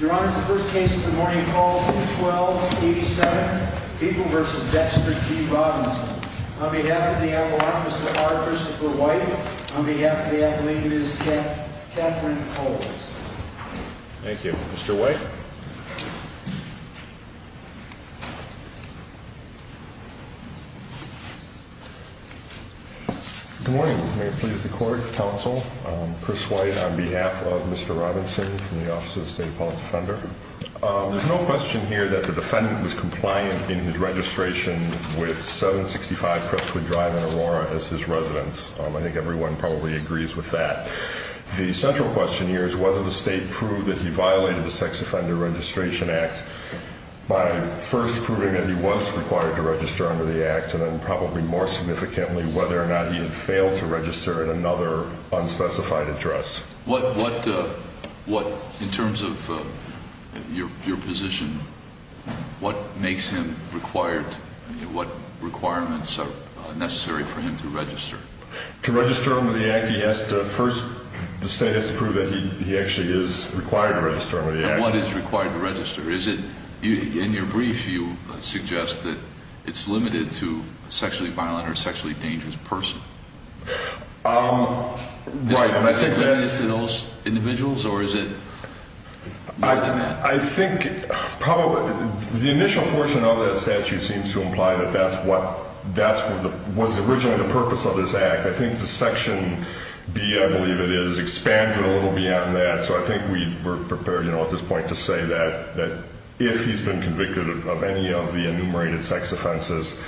Your Honor, the first case of the morning is called 212-87, Beeple v. Dexter G. Robinson. On behalf of the Appellant, Mr. R. Christopher White. On behalf of the Appellate, Ms. Catherine Coles. Thank you. Mr. White. Good morning. May it please the Court, Counsel, Chris White on behalf of Mr. Robinson from the Office of the State Appellant Defender. There's no question here that the defendant was compliant in his registration with 765 Crestwood Drive in Aurora as his residence. I think everyone probably agrees with that. The central question here is whether the State proved that he violated the Sex Offender Registration Act by first proving that he was required to register under the Act and then probably more significantly whether or not he had failed to register in another unspecified address. What, in terms of your position, what makes him required, what requirements are necessary for him to register? To register under the Act, he has to first, the State has to prove that he actually is required to register under the Act. And what is required to register? Is it, in your brief, you suggest that it's limited to a sexually violent or sexually dangerous person. Right, and I think that's... Is it limited to those individuals or is it more than that? I think probably the initial portion of that statute seems to imply that that's what was originally the purpose of this Act. I think the Section B, I believe it is, expands it a little beyond that. So I think we're prepared, you know, at this point to say that if he's been convicted of any of the enumerated sex offenses,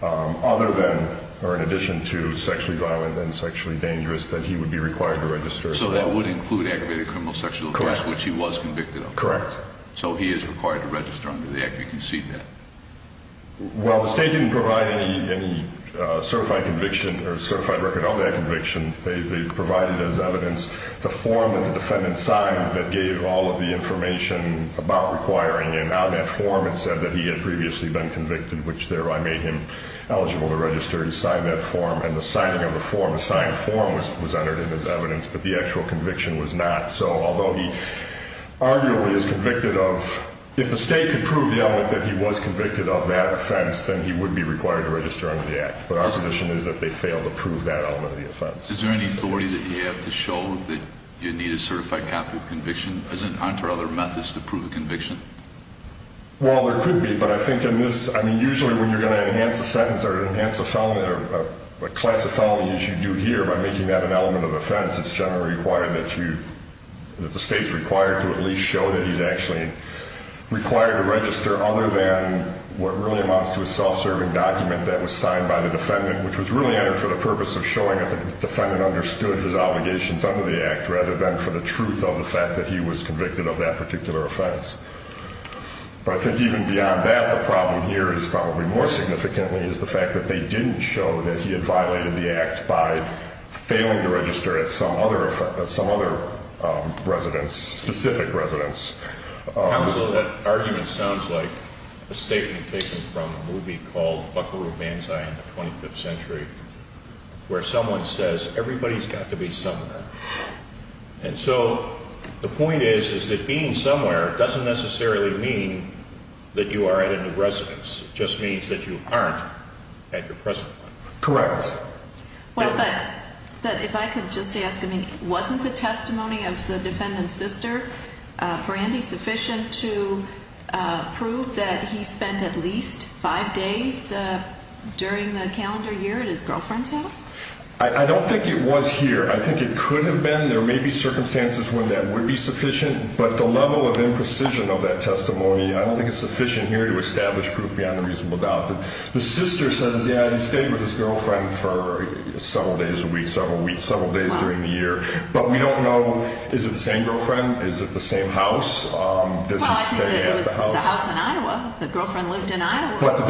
other than or in addition to sexually violent and sexually dangerous, that he would be required to register. So that would include aggravated criminal sexual abuse, which he was convicted of? Correct. So he is required to register under the Act, you concede that? Well, the State didn't provide any certified conviction or certified record of that conviction. They provided as evidence the form that the defendant signed that gave all of the information about requiring him. Now that form, it said that he had previously been convicted, which thereby made him eligible to register. He signed that form and the signing of the form, the signed form, was entered in as evidence, but the actual conviction was not. So although he arguably is convicted of, if the State could prove the element that he was convicted of that offense, then he would be required to register under the Act. But our position is that they failed to prove that element of the offense. Is there any authority that you have to show that you need a certified copy of conviction? Aren't there other methods to prove a conviction? Well, there could be, but I think in this, I mean, usually when you're going to enhance a sentence or enhance a class of felony as you do here, by making that an element of offense, it's generally required that you, that the State's required to at least show that he's actually required to register other than what really amounts to a self-serving document that was signed by the defendant, which was really entered for the purpose of showing that the defendant understood his obligations under the Act rather than for the truth of the fact that he was convicted of that particular offense. But I think even beyond that, the problem here is probably more significantly is the fact that they didn't show that he had violated the Act by failing to register at some other residence, specific residence. Counsel, that argument sounds like a statement taken from a movie called Buckaroo Banzai in the 25th Century where someone says, everybody's got to be somewhere. And so the point is, is that being somewhere doesn't necessarily mean that you are at a new residence. It just means that you aren't at your present one. Correct. But if I could just ask, wasn't the testimony of the defendant's sister, Brandy, sufficient to prove that he spent at least five days during the calendar year at his girlfriend's house? I don't think it was here. I think it could have been. There may be circumstances when that would be sufficient, but the level of imprecision of that testimony, I don't think it's sufficient here to establish proof beyond a reasonable doubt. The sister says, yeah, he stayed with his girlfriend for several days a week, several weeks, several days during the year. But we don't know, is it the same girlfriend? Is it the same house? Well, I think it was the house in Iowa. The girlfriend lived in Iowa. But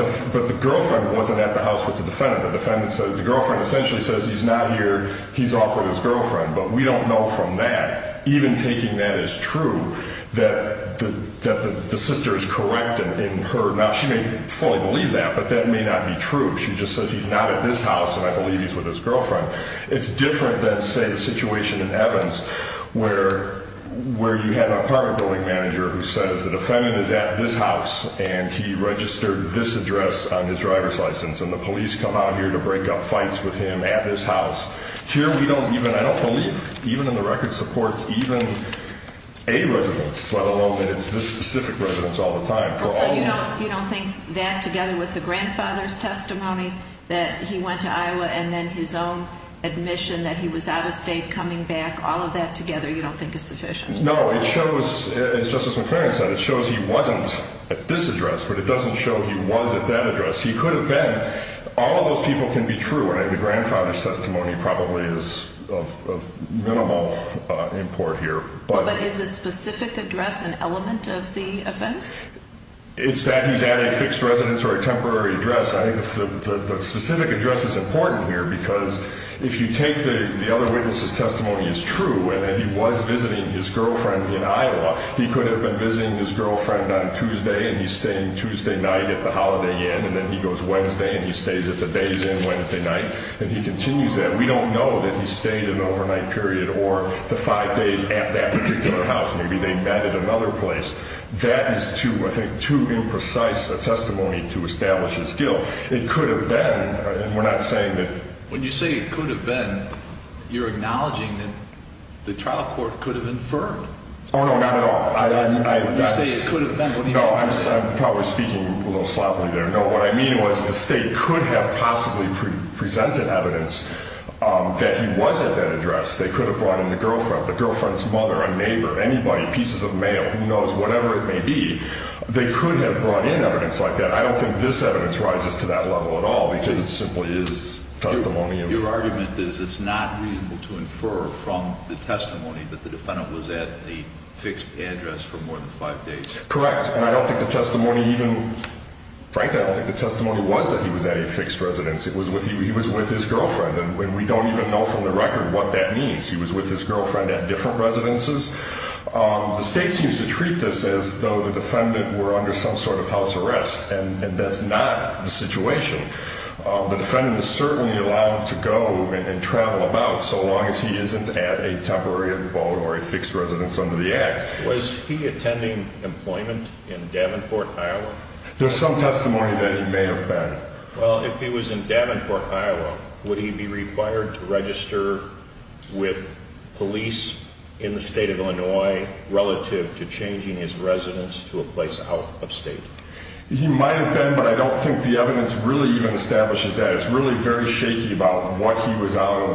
the girlfriend wasn't at the house with the defendant. The defendant says, the girlfriend essentially says he's not here, he's off with his girlfriend. But we don't know from that, even taking that as true, that the sister is correct in her. Now, she may fully believe that, but that may not be true. She just says he's not at this house and I believe he's with his girlfriend. It's different than, say, the situation in Evans where you have an apartment building manager who says the defendant is at this house and he registered this address on his driver's license and the police come out here to break up fights with him at this house. Here we don't even, I don't believe, even in the record, supports even a residence, let alone that it's this specific residence all the time. So you don't think that together with the grandfather's testimony that he went to Iowa and then his own admission that he was out of state coming back, all of that together you don't think is sufficient? No. It shows, as Justice McFerrin said, it shows he wasn't at this address, but it doesn't show he was at that address. He could have been. All of those people can be true, and the grandfather's testimony probably is of minimal import here. But is a specific address an element of the offense? It's that he's at a fixed residence or a temporary address. I think the specific address is important here because if you take the other witness's testimony as true, and that he was visiting his girlfriend in Iowa, he could have been visiting his girlfriend on Tuesday and he's staying Tuesday night at the Holiday Inn, and then he goes Wednesday and he stays at the Days Inn Wednesday night, and he continues that, we don't know that he stayed an overnight period or the five days at that particular house. Maybe they met at another place. That is too, I think, too imprecise a testimony to establish his guilt. It could have been, and we're not saying that. When you say it could have been, you're acknowledging that the trial court could have inferred. Oh, no, not at all. You say it could have been. No, I'm probably speaking a little sloppily there. No, what I mean was the state could have possibly presented evidence that he was at that address. They could have brought in the girlfriend, the girlfriend's mother, a neighbor, anybody, pieces of mail, who knows, whatever it may be. They could have brought in evidence like that. I don't think this evidence rises to that level at all because it simply is testimony. Your argument is it's not reasonable to infer from the testimony that the defendant was at a fixed address for more than five days. Correct, and I don't think the testimony even, frankly, I don't think the testimony was that he was at a fixed residence. He was with his girlfriend, and we don't even know from the record what that means. He was with his girlfriend at different residences. The state seems to treat this as though the defendant were under some sort of house arrest, and that's not the situation. The defendant is certainly allowed to go and travel about so long as he isn't at a temporary abode or a fixed residence under the Act. Was he attending employment in Davenport, Iowa? There's some testimony that he may have been. Well, if he was in Davenport, Iowa, would he be required to register with police in the state of Illinois relative to changing his residence to a place out of state? He might have been, but I don't think the evidence really even establishes that. It's really very shaky about what he was out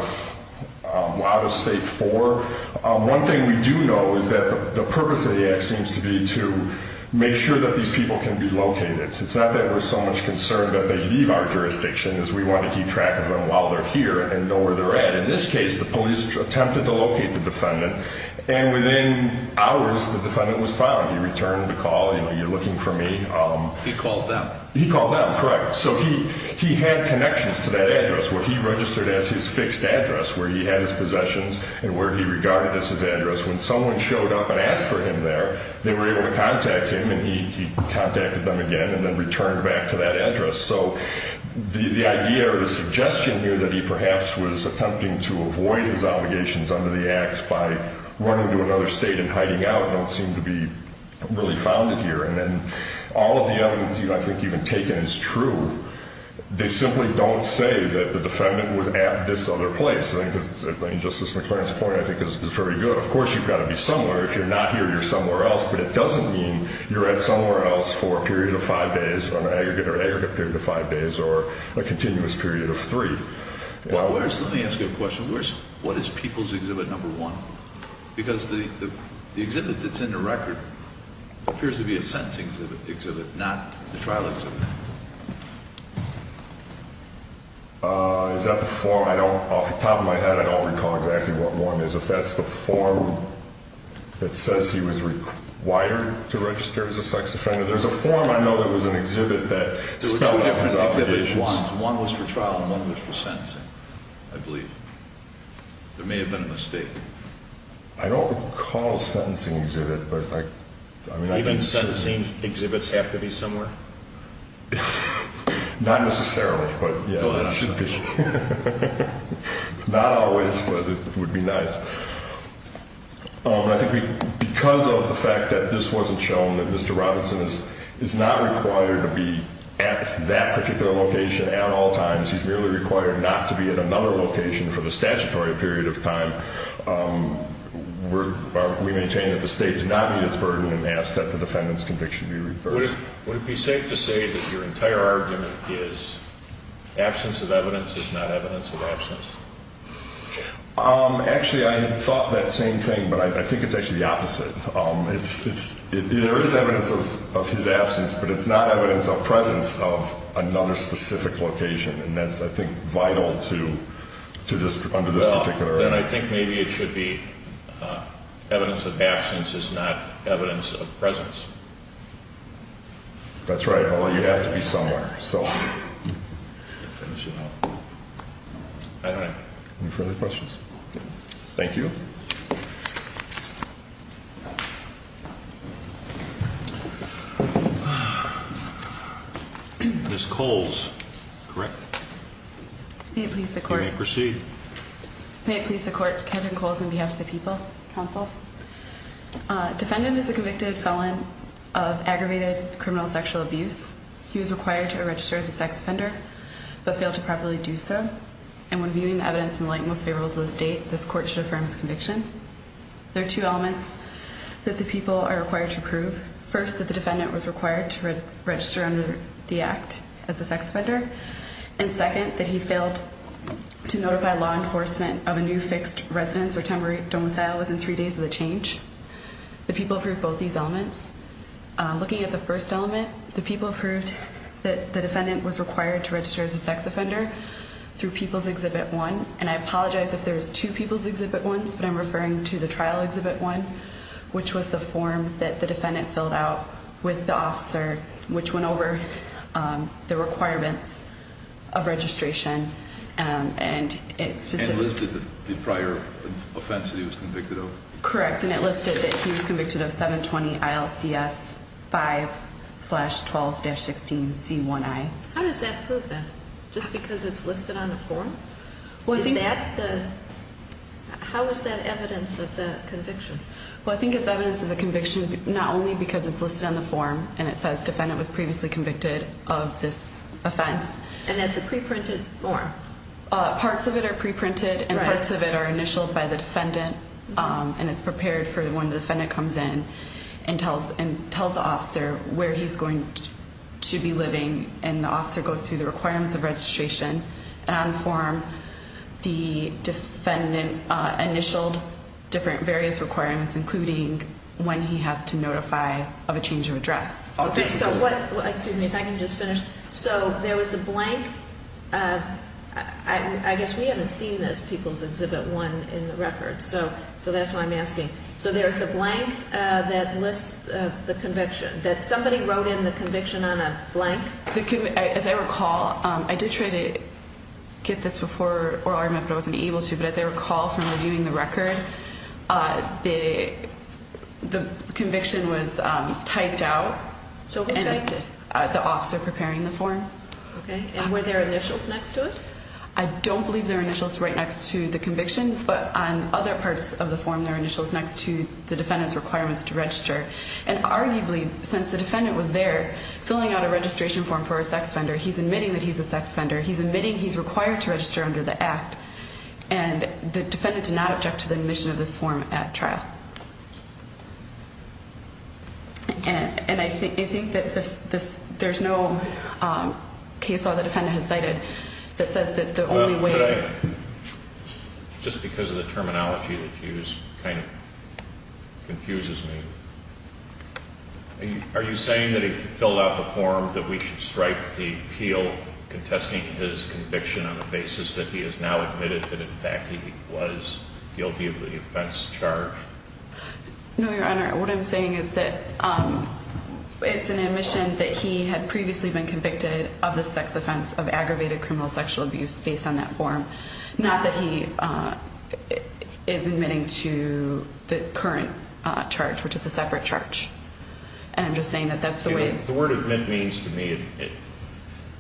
of state for. One thing we do know is that the purpose of the Act seems to be to make sure that these people can be located. It's not that we're so much concerned that they leave our jurisdiction as we want to keep track of them while they're here and know where they're at. In this case, the police attempted to locate the defendant, and within hours, the defendant was found. He returned the call, you know, you're looking for me. He called them. He called them, correct. So he had connections to that address where he registered as his fixed address, where he had his possessions and where he regarded as his address. When someone showed up and asked for him there, they were able to contact him, and he contacted them again and then returned back to that address. So the idea or the suggestion here that he perhaps was attempting to avoid his obligations under the Act by running to another state and hiding out don't seem to be really founded here. All of the evidence I think you've taken is true. They simply don't say that the defendant was at this other place. Justice McClaren's point I think is very good. Of course you've got to be somewhere. If you're not here, you're somewhere else, but it doesn't mean you're at somewhere else for a period of five days or an aggregate period of five days or a continuous period of three. Let me ask you a question. What is People's Exhibit No. 1? Because the exhibit that's in the record appears to be a sentencing exhibit, not the trial exhibit. Is that the form? Off the top of my head, I don't recall exactly what one is. If that's the form that says he was required to register as a sex offender, there's a form I know that was an exhibit that spelled out his obligations. There were two different exhibits. One was for trial and one was for sentencing, I believe. There may have been a mistake. I don't recall a sentencing exhibit. Even sentencing exhibits have to be somewhere? Not necessarily, but yeah. Not always, but it would be nice. Because of the fact that this wasn't shown, Mr. Robinson is not required to be at that particular location at all times. He's merely required not to be at another location for the statutory period of time. We maintain that the state did not meet its burden and ask that the defendant's conviction be reversed. Would it be safe to say that your entire argument is absence of evidence is not evidence of absence? Actually, I had thought that same thing, but I think it's actually the opposite. There is evidence of his absence, but it's not evidence of presence of another specific location. And that's, I think, vital to this particular argument. Then I think maybe it should be evidence of absence is not evidence of presence. That's right, but you have to be somewhere. Any further questions? Thank you. Thank you. Ms. Coles, correct? May it please the court. You may proceed. May it please the court, Kevin Coles on behalf of the people, counsel. Defendant is a convicted felon of aggravated criminal sexual abuse. He was required to register as a sex offender, but failed to properly do so. And when viewing the evidence in the light most favorable to this date, this court should affirm his conviction. There are two elements that the people are required to prove. First, that the defendant was required to register under the act as a sex offender. And second, that he failed to notify law enforcement of a new fixed residence or temporary domicile within three days of the change. The people approved both these elements. Looking at the first element, the people approved that the defendant was required to register as a sex offender through People's Exhibit 1. And I apologize if there's two People's Exhibit 1s, but I'm referring to the Trial Exhibit 1, which was the form that the defendant filled out with the officer, which went over the requirements of registration. And it specifically... And listed the prior offense that he was convicted of. Correct. And it listed that he was convicted of 720 ILCS 5-12-16 C1I. How does that prove that? Just because it's listed on the form? Is that the... How is that evidence of the conviction? Well, I think it's evidence of the conviction not only because it's listed on the form, and it says defendant was previously convicted of this offense. And that's a preprinted form? Parts of it are preprinted, and parts of it are initialed by the defendant. And it's prepared for when the defendant comes in and tells the officer where he's going to be living. And the officer goes through the requirements of registration. And on the form, the defendant initialed different various requirements, including when he has to notify of a change of address. Okay. So what... Excuse me, if I can just finish. So there was a blank. I guess we haven't seen this, People's Exhibit 1 in the record. So that's why I'm asking. So there was a blank that lists the conviction, that somebody wrote in the conviction on a blank? As I recall, I did try to get this before, or I remember I wasn't able to, but as I recall from reviewing the record, the conviction was typed out. So who typed it? The officer preparing the form. Okay. And were there initials next to it? I don't believe there are initials right next to the conviction, but on other parts of the form there are initials next to the defendant's requirements to register. And arguably, since the defendant was there filling out a registration form for a sex offender, he's admitting that he's a sex offender, he's admitting he's required to register under the Act, and the defendant did not object to the admission of this form at trial. And I think that there's no case law the defendant has cited that says that the only way... Just because of the terminology, it kind of confuses me. Are you saying that he filled out the form that we should strike the appeal contesting his conviction on the basis that he has now admitted that in fact he was guilty of the offense charged? No, Your Honor. What I'm saying is that it's an admission that he had previously been convicted of the sex offense of aggravated criminal sexual abuse based on that form, not that he is admitting to the current charge, which is a separate charge. And I'm just saying that that's the way... The word admit means to me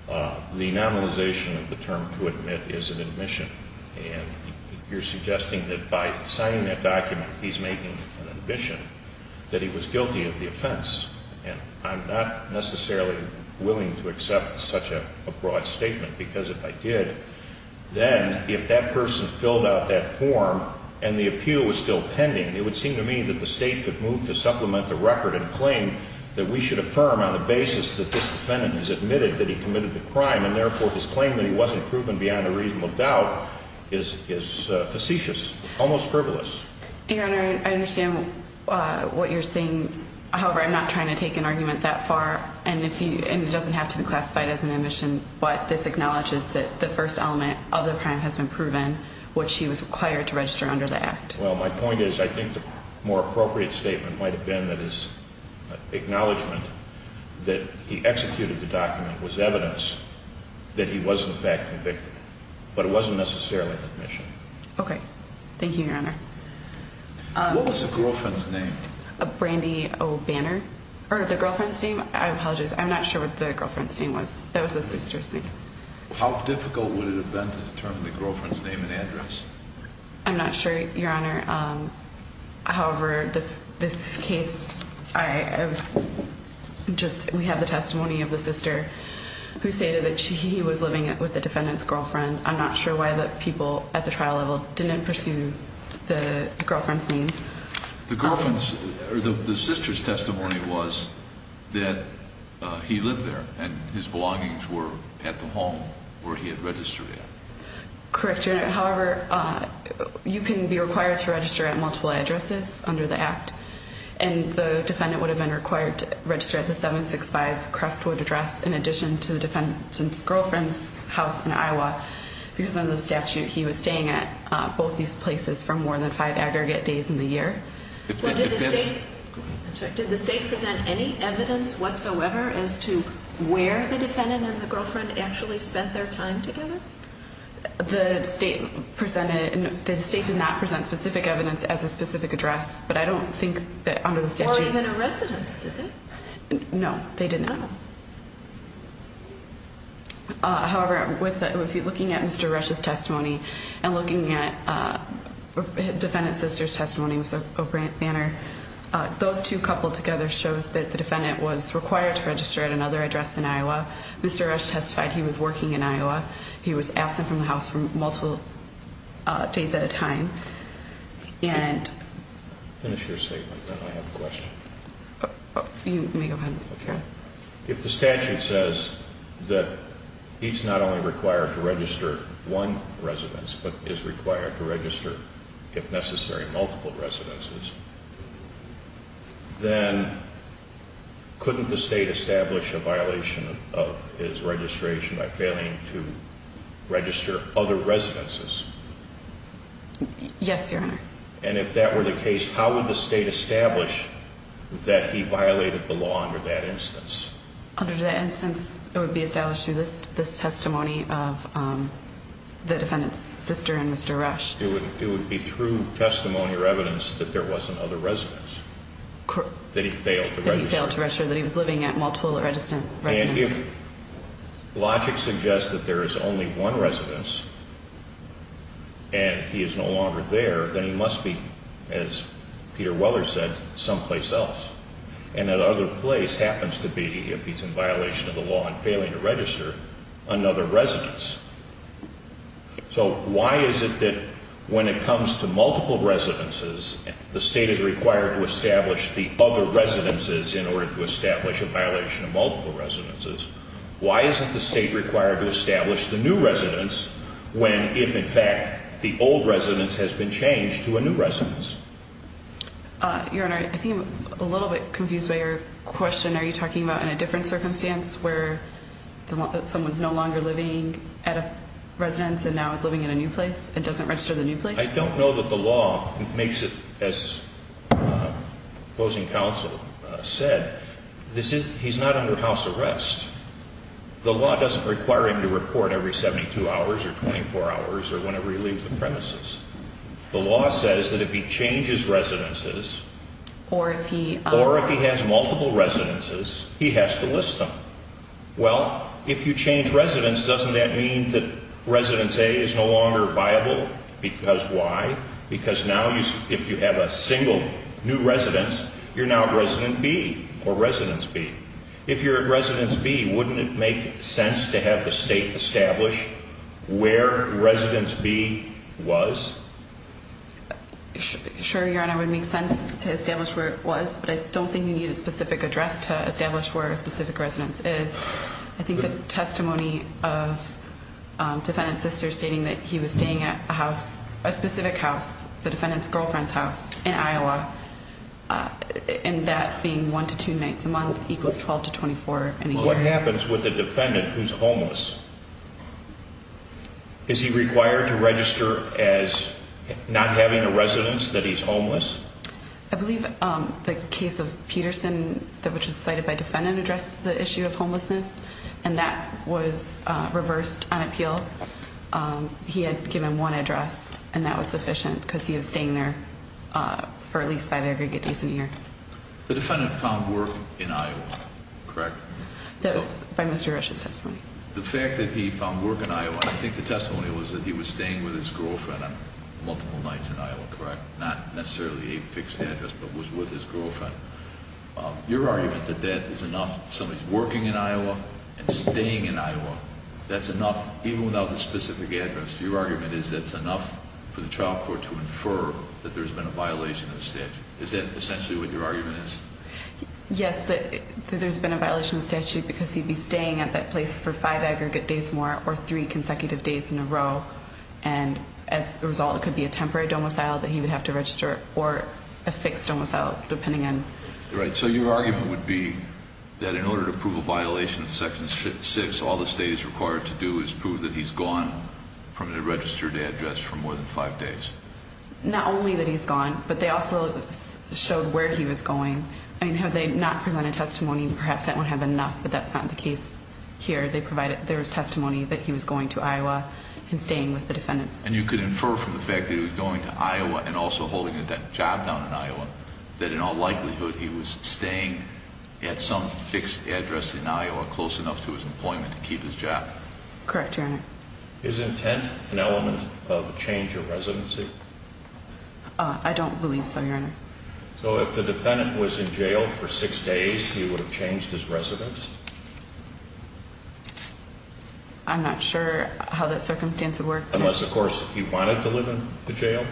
the nominalization of the term to admit is an admission. And you're suggesting that by signing that document he's making an admission that he was guilty of the offense. And I'm not necessarily willing to accept such a broad statement, because if I did, then if that person filled out that form and the appeal was still pending, it would seem to me that the State could move to supplement the record and claim that we should affirm on the basis that this defendant has admitted that he committed the crime and therefore his claim that he wasn't proven beyond a reasonable doubt is facetious, almost frivolous. Your Honor, I understand what you're saying. However, I'm not trying to take an argument that far, and it doesn't have to be classified as an admission, but this acknowledges that the first element of the crime has been proven, which he was required to register under the Act. Well, my point is I think the more appropriate statement might have been that his acknowledgement that he executed the document was evidence that he was in fact convicted, but it wasn't necessarily an admission. Okay. Thank you, Your Honor. What was the girlfriend's name? Brandi O. Banner? Or the girlfriend's name? I apologize. I'm not sure what the girlfriend's name was. That was the sister's name. How difficult would it have been to determine the girlfriend's name and address? I'm not sure, Your Honor. However, this case, we have the testimony of the sister who stated that he was living with the defendant's girlfriend. I'm not sure why the people at the trial level didn't pursue the girlfriend's name. The sister's testimony was that he lived there, and his belongings were at the home where he had registered at. Correct, Your Honor. However, you can be required to register at multiple addresses under the Act, and the defendant would have been required to register at the 765 Crestwood address in addition to the defendant's girlfriend's house in Iowa, because under the statute, he was staying at both these places for more than five aggregate days in the year. Did the state present any evidence whatsoever as to where the defendant and the girlfriend actually spent their time together? The state did not present specific evidence as a specific address, but I don't think that under the statute. Or even a residence, did they? No, they did not. However, looking at Mr. Rush's testimony and looking at defendant's sister's testimony, those two coupled together shows that the defendant was required to register at another address in Iowa. Mr. Rush testified he was working in Iowa. He was absent from the house for multiple days at a time. You may go ahead. If the statute says that he's not only required to register one residence, but is required to register, if necessary, multiple residences, then couldn't the state establish a violation of his registration by failing to register other residences? Yes, Your Honor. And if that were the case, how would the state establish that he violated the law under that instance? Under that instance, it would be established through this testimony of the defendant's sister and Mr. Rush. It would be through testimony or evidence that there was another residence that he failed to register. That he failed to register, that he was living at multiple registered residences. If logic suggests that there is only one residence and he is no longer there, then he must be, as Peter Weller said, someplace else. And that other place happens to be, if he's in violation of the law and failing to register, another residence. So why is it that when it comes to multiple residences, the state is required to establish the other residences in order to establish a violation of multiple residences. Why isn't the state required to establish the new residence when, if in fact, the old residence has been changed to a new residence? Your Honor, I think I'm a little bit confused by your question. Are you talking about in a different circumstance where someone's no longer living at a residence and now is living in a new place and doesn't register the new place? I don't know that the law makes it as opposing counsel said. He's not under house arrest. The law doesn't require him to report every 72 hours or 24 hours or whenever he leaves the premises. The law says that if he changes residences or if he has multiple residences, he has to list them. Well, if you change residence, doesn't that mean that residence A is no longer viable? Because why? Because now if you have a single new residence, you're now at residence B or residence B. If you're at residence B, wouldn't it make sense to have the state establish where residence B was? Sure, Your Honor, it would make sense to establish where it was, but I don't think you need a specific address to establish where a specific residence is. I think the testimony of defendant's sister stating that he was staying at a house, a specific house, the defendant's girlfriend's house in Iowa, and that being one to two nights a month equals 12 to 24 in a year. What happens with the defendant who's homeless? Is he required to register as not having a residence that he's homeless? I believe the case of Peterson, which was cited by defendant, addressed the issue of homelessness, and that was reversed on appeal. He had given one address, and that was sufficient because he was staying there for at least five aggregate days a year. The defendant found work in Iowa, correct? That was by Mr. Rush's testimony. The fact that he found work in Iowa, I think the testimony was that he was staying with his girlfriend on multiple nights in Iowa, correct? Not necessarily a fixed address, but was with his girlfriend. Your argument that that is enough, somebody's working in Iowa and staying in Iowa, that's enough. Even without a specific address, your argument is that's enough for the trial court to infer that there's been a violation of the statute. Is that essentially what your argument is? Yes, that there's been a violation of the statute because he'd be staying at that place for five aggregate days more or three consecutive days in a row, and as a result, it could be a temporary domicile that he would have to register or a fixed domicile, depending on. Right, so your argument would be that in order to prove a violation of Section 6, all the state is required to do is prove that he's gone from the registered address for more than five days. Not only that he's gone, but they also showed where he was going. I mean, had they not presented testimony, perhaps that would have been enough, but that's not the case here. There was testimony that he was going to Iowa and staying with the defendants. And you could infer from the fact that he was going to Iowa and also holding a job down in Iowa that in all likelihood he was staying at some fixed address in Iowa close enough to his employment to keep his job? Correct, Your Honor. Is intent an element of change of residency? I don't believe so, Your Honor. So if the defendant was in jail for six days, he would have changed his residence? I'm not sure how that circumstance would work. Unless, of course, he wanted to live in the jail?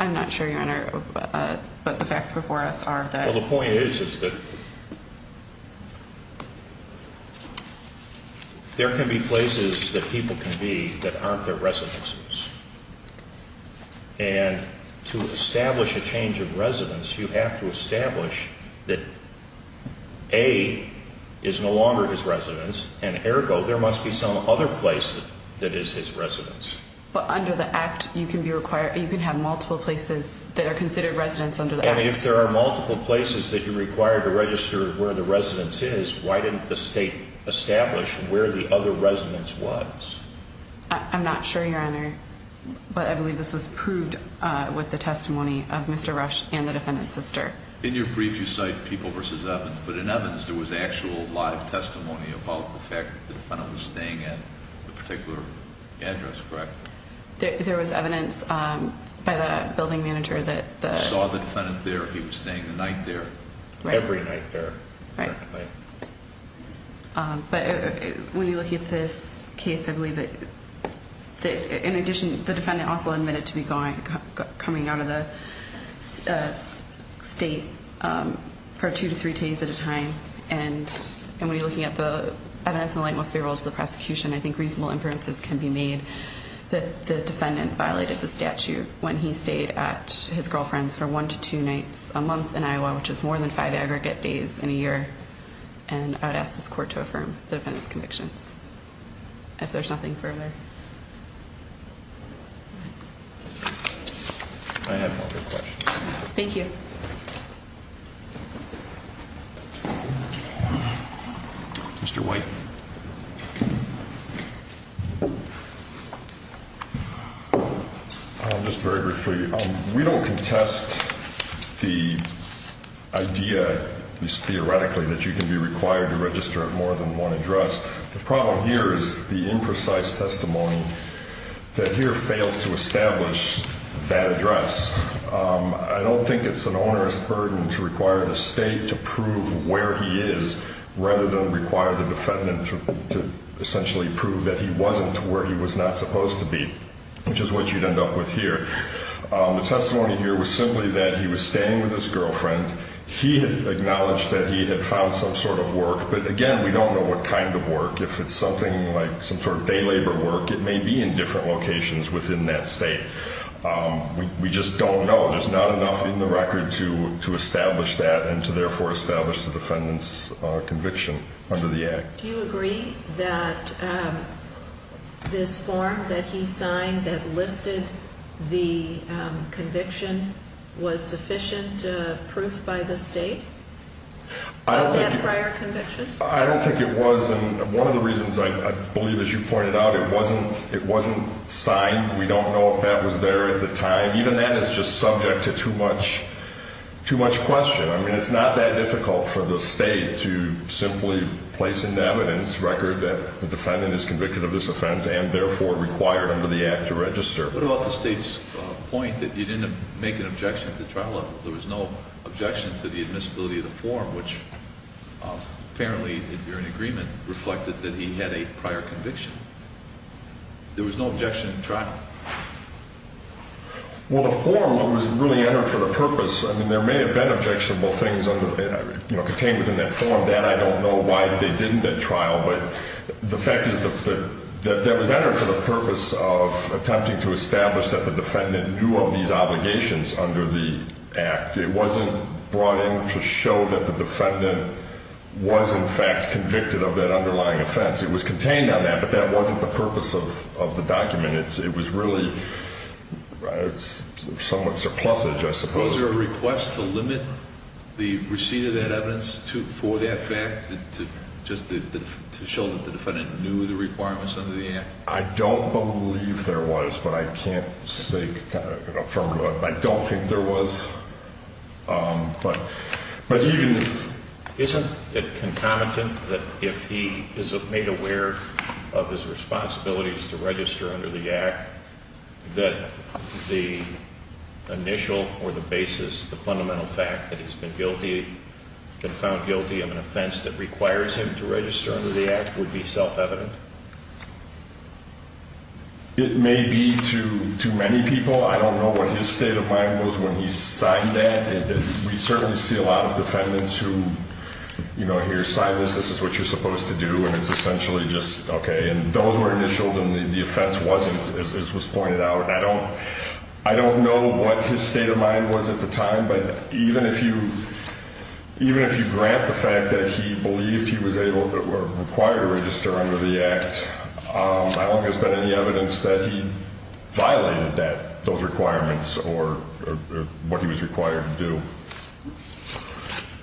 I'm not sure, Your Honor, but the facts before us are that. Well, the point is that there can be places that people can be that aren't their residences. And to establish a change of residence, you have to establish that A is no longer his residence, and ergo, there must be some other place that is his residence. But under the Act, you can have multiple places that are considered residences under the Act. And if there are multiple places that you're required to register where the residence is, why didn't the State establish where the other residence was? I'm not sure, Your Honor, but I believe this was proved with the testimony of Mr. Rush and the defendant's sister. In your brief, you cite People v. Evans, but in Evans there was actual live testimony about the fact that the defendant was staying at a particular address, correct? There was evidence by the building manager that the— Saw the defendant there, he was staying the night there? Every night there, apparently. But when you look at this case, I believe that in addition, the defendant also admitted to coming out of the State for two to three days at a time. And when you're looking at the evidence in the light most favorable to the prosecution, I think reasonable inferences can be made that the defendant violated the statute when he stayed at his girlfriend's for one to two nights a month in Iowa, which is more than five aggregate days in a year. And I'd ask this Court to affirm the defendant's convictions. If there's nothing further. I have no further questions. Thank you. Mr. White. I'll just very briefly. We don't contest the idea, at least theoretically, that you can be required to register at more than one address. The problem here is the imprecise testimony that here fails to establish that address. I don't think it's an owner's burden to require the State to prove where he is rather than require the defendant to essentially prove that he wasn't where he was not supposed to be, which is what you'd end up with here. The testimony here was simply that he was staying with his girlfriend. He had acknowledged that he had found some sort of work. But, again, we don't know what kind of work. If it's something like some sort of day labor work, it may be in different locations within that State. We just don't know. There's not enough in the record to establish that and to, therefore, establish the defendant's conviction under the Act. Do you agree that this form that he signed that listed the conviction was sufficient proof by the State of that prior conviction? I don't think it was. And one of the reasons I believe, as you pointed out, it wasn't signed. We don't know if that was there at the time. Even that is just subject to too much question. I mean, it's not that difficult for the State to simply place into evidence record that the defendant is convicted of this offense and, therefore, required under the Act to register. What about the State's point that you didn't make an objection at the trial level? There was no objection to the admissibility of the form, which apparently, if you're in agreement, reflected that he had a prior conviction. There was no objection at trial. Well, the form was really entered for the purpose. I mean, there may have been objectionable things contained within that form. That, I don't know why they didn't at trial. But the fact is that that was entered for the purpose of attempting to establish that the defendant knew of these obligations under the Act. It wasn't brought in to show that the defendant was, in fact, convicted of that underlying offense. It was contained on that, but that wasn't the purpose of the document. It was really somewhat surplusage, I suppose. Was there a request to limit the receipt of that evidence for that fact, just to show that the defendant knew of the requirements under the Act? I don't believe there was, but I can't say confirmably. I don't think there was. Isn't it concomitant that if he is made aware of his responsibilities to register under the Act, that the initial or the basis, the fundamental fact that he's been found guilty of an offense that requires him to register under the Act would be self-evident? It may be to many people. I don't know what his state of mind was when he signed that. We certainly see a lot of defendants who, you know, here, sign this. This is what you're supposed to do, and it's essentially just okay. And those were initialed, and the offense wasn't, as was pointed out. I don't know what his state of mind was at the time, but even if you grant the fact that he believed he was able or required to register under the Act, I don't think there's been any evidence that he violated those requirements or what he was required to do.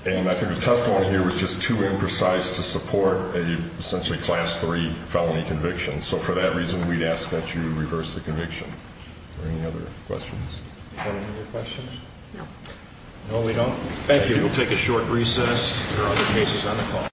And I think the testimony here was just too imprecise to support a, essentially, Class III felony conviction. So for that reason, we'd ask that you reverse the conviction. Any other questions? Any other questions? No, we don't. Thank you. We'll take a short recess. There are other cases on the call.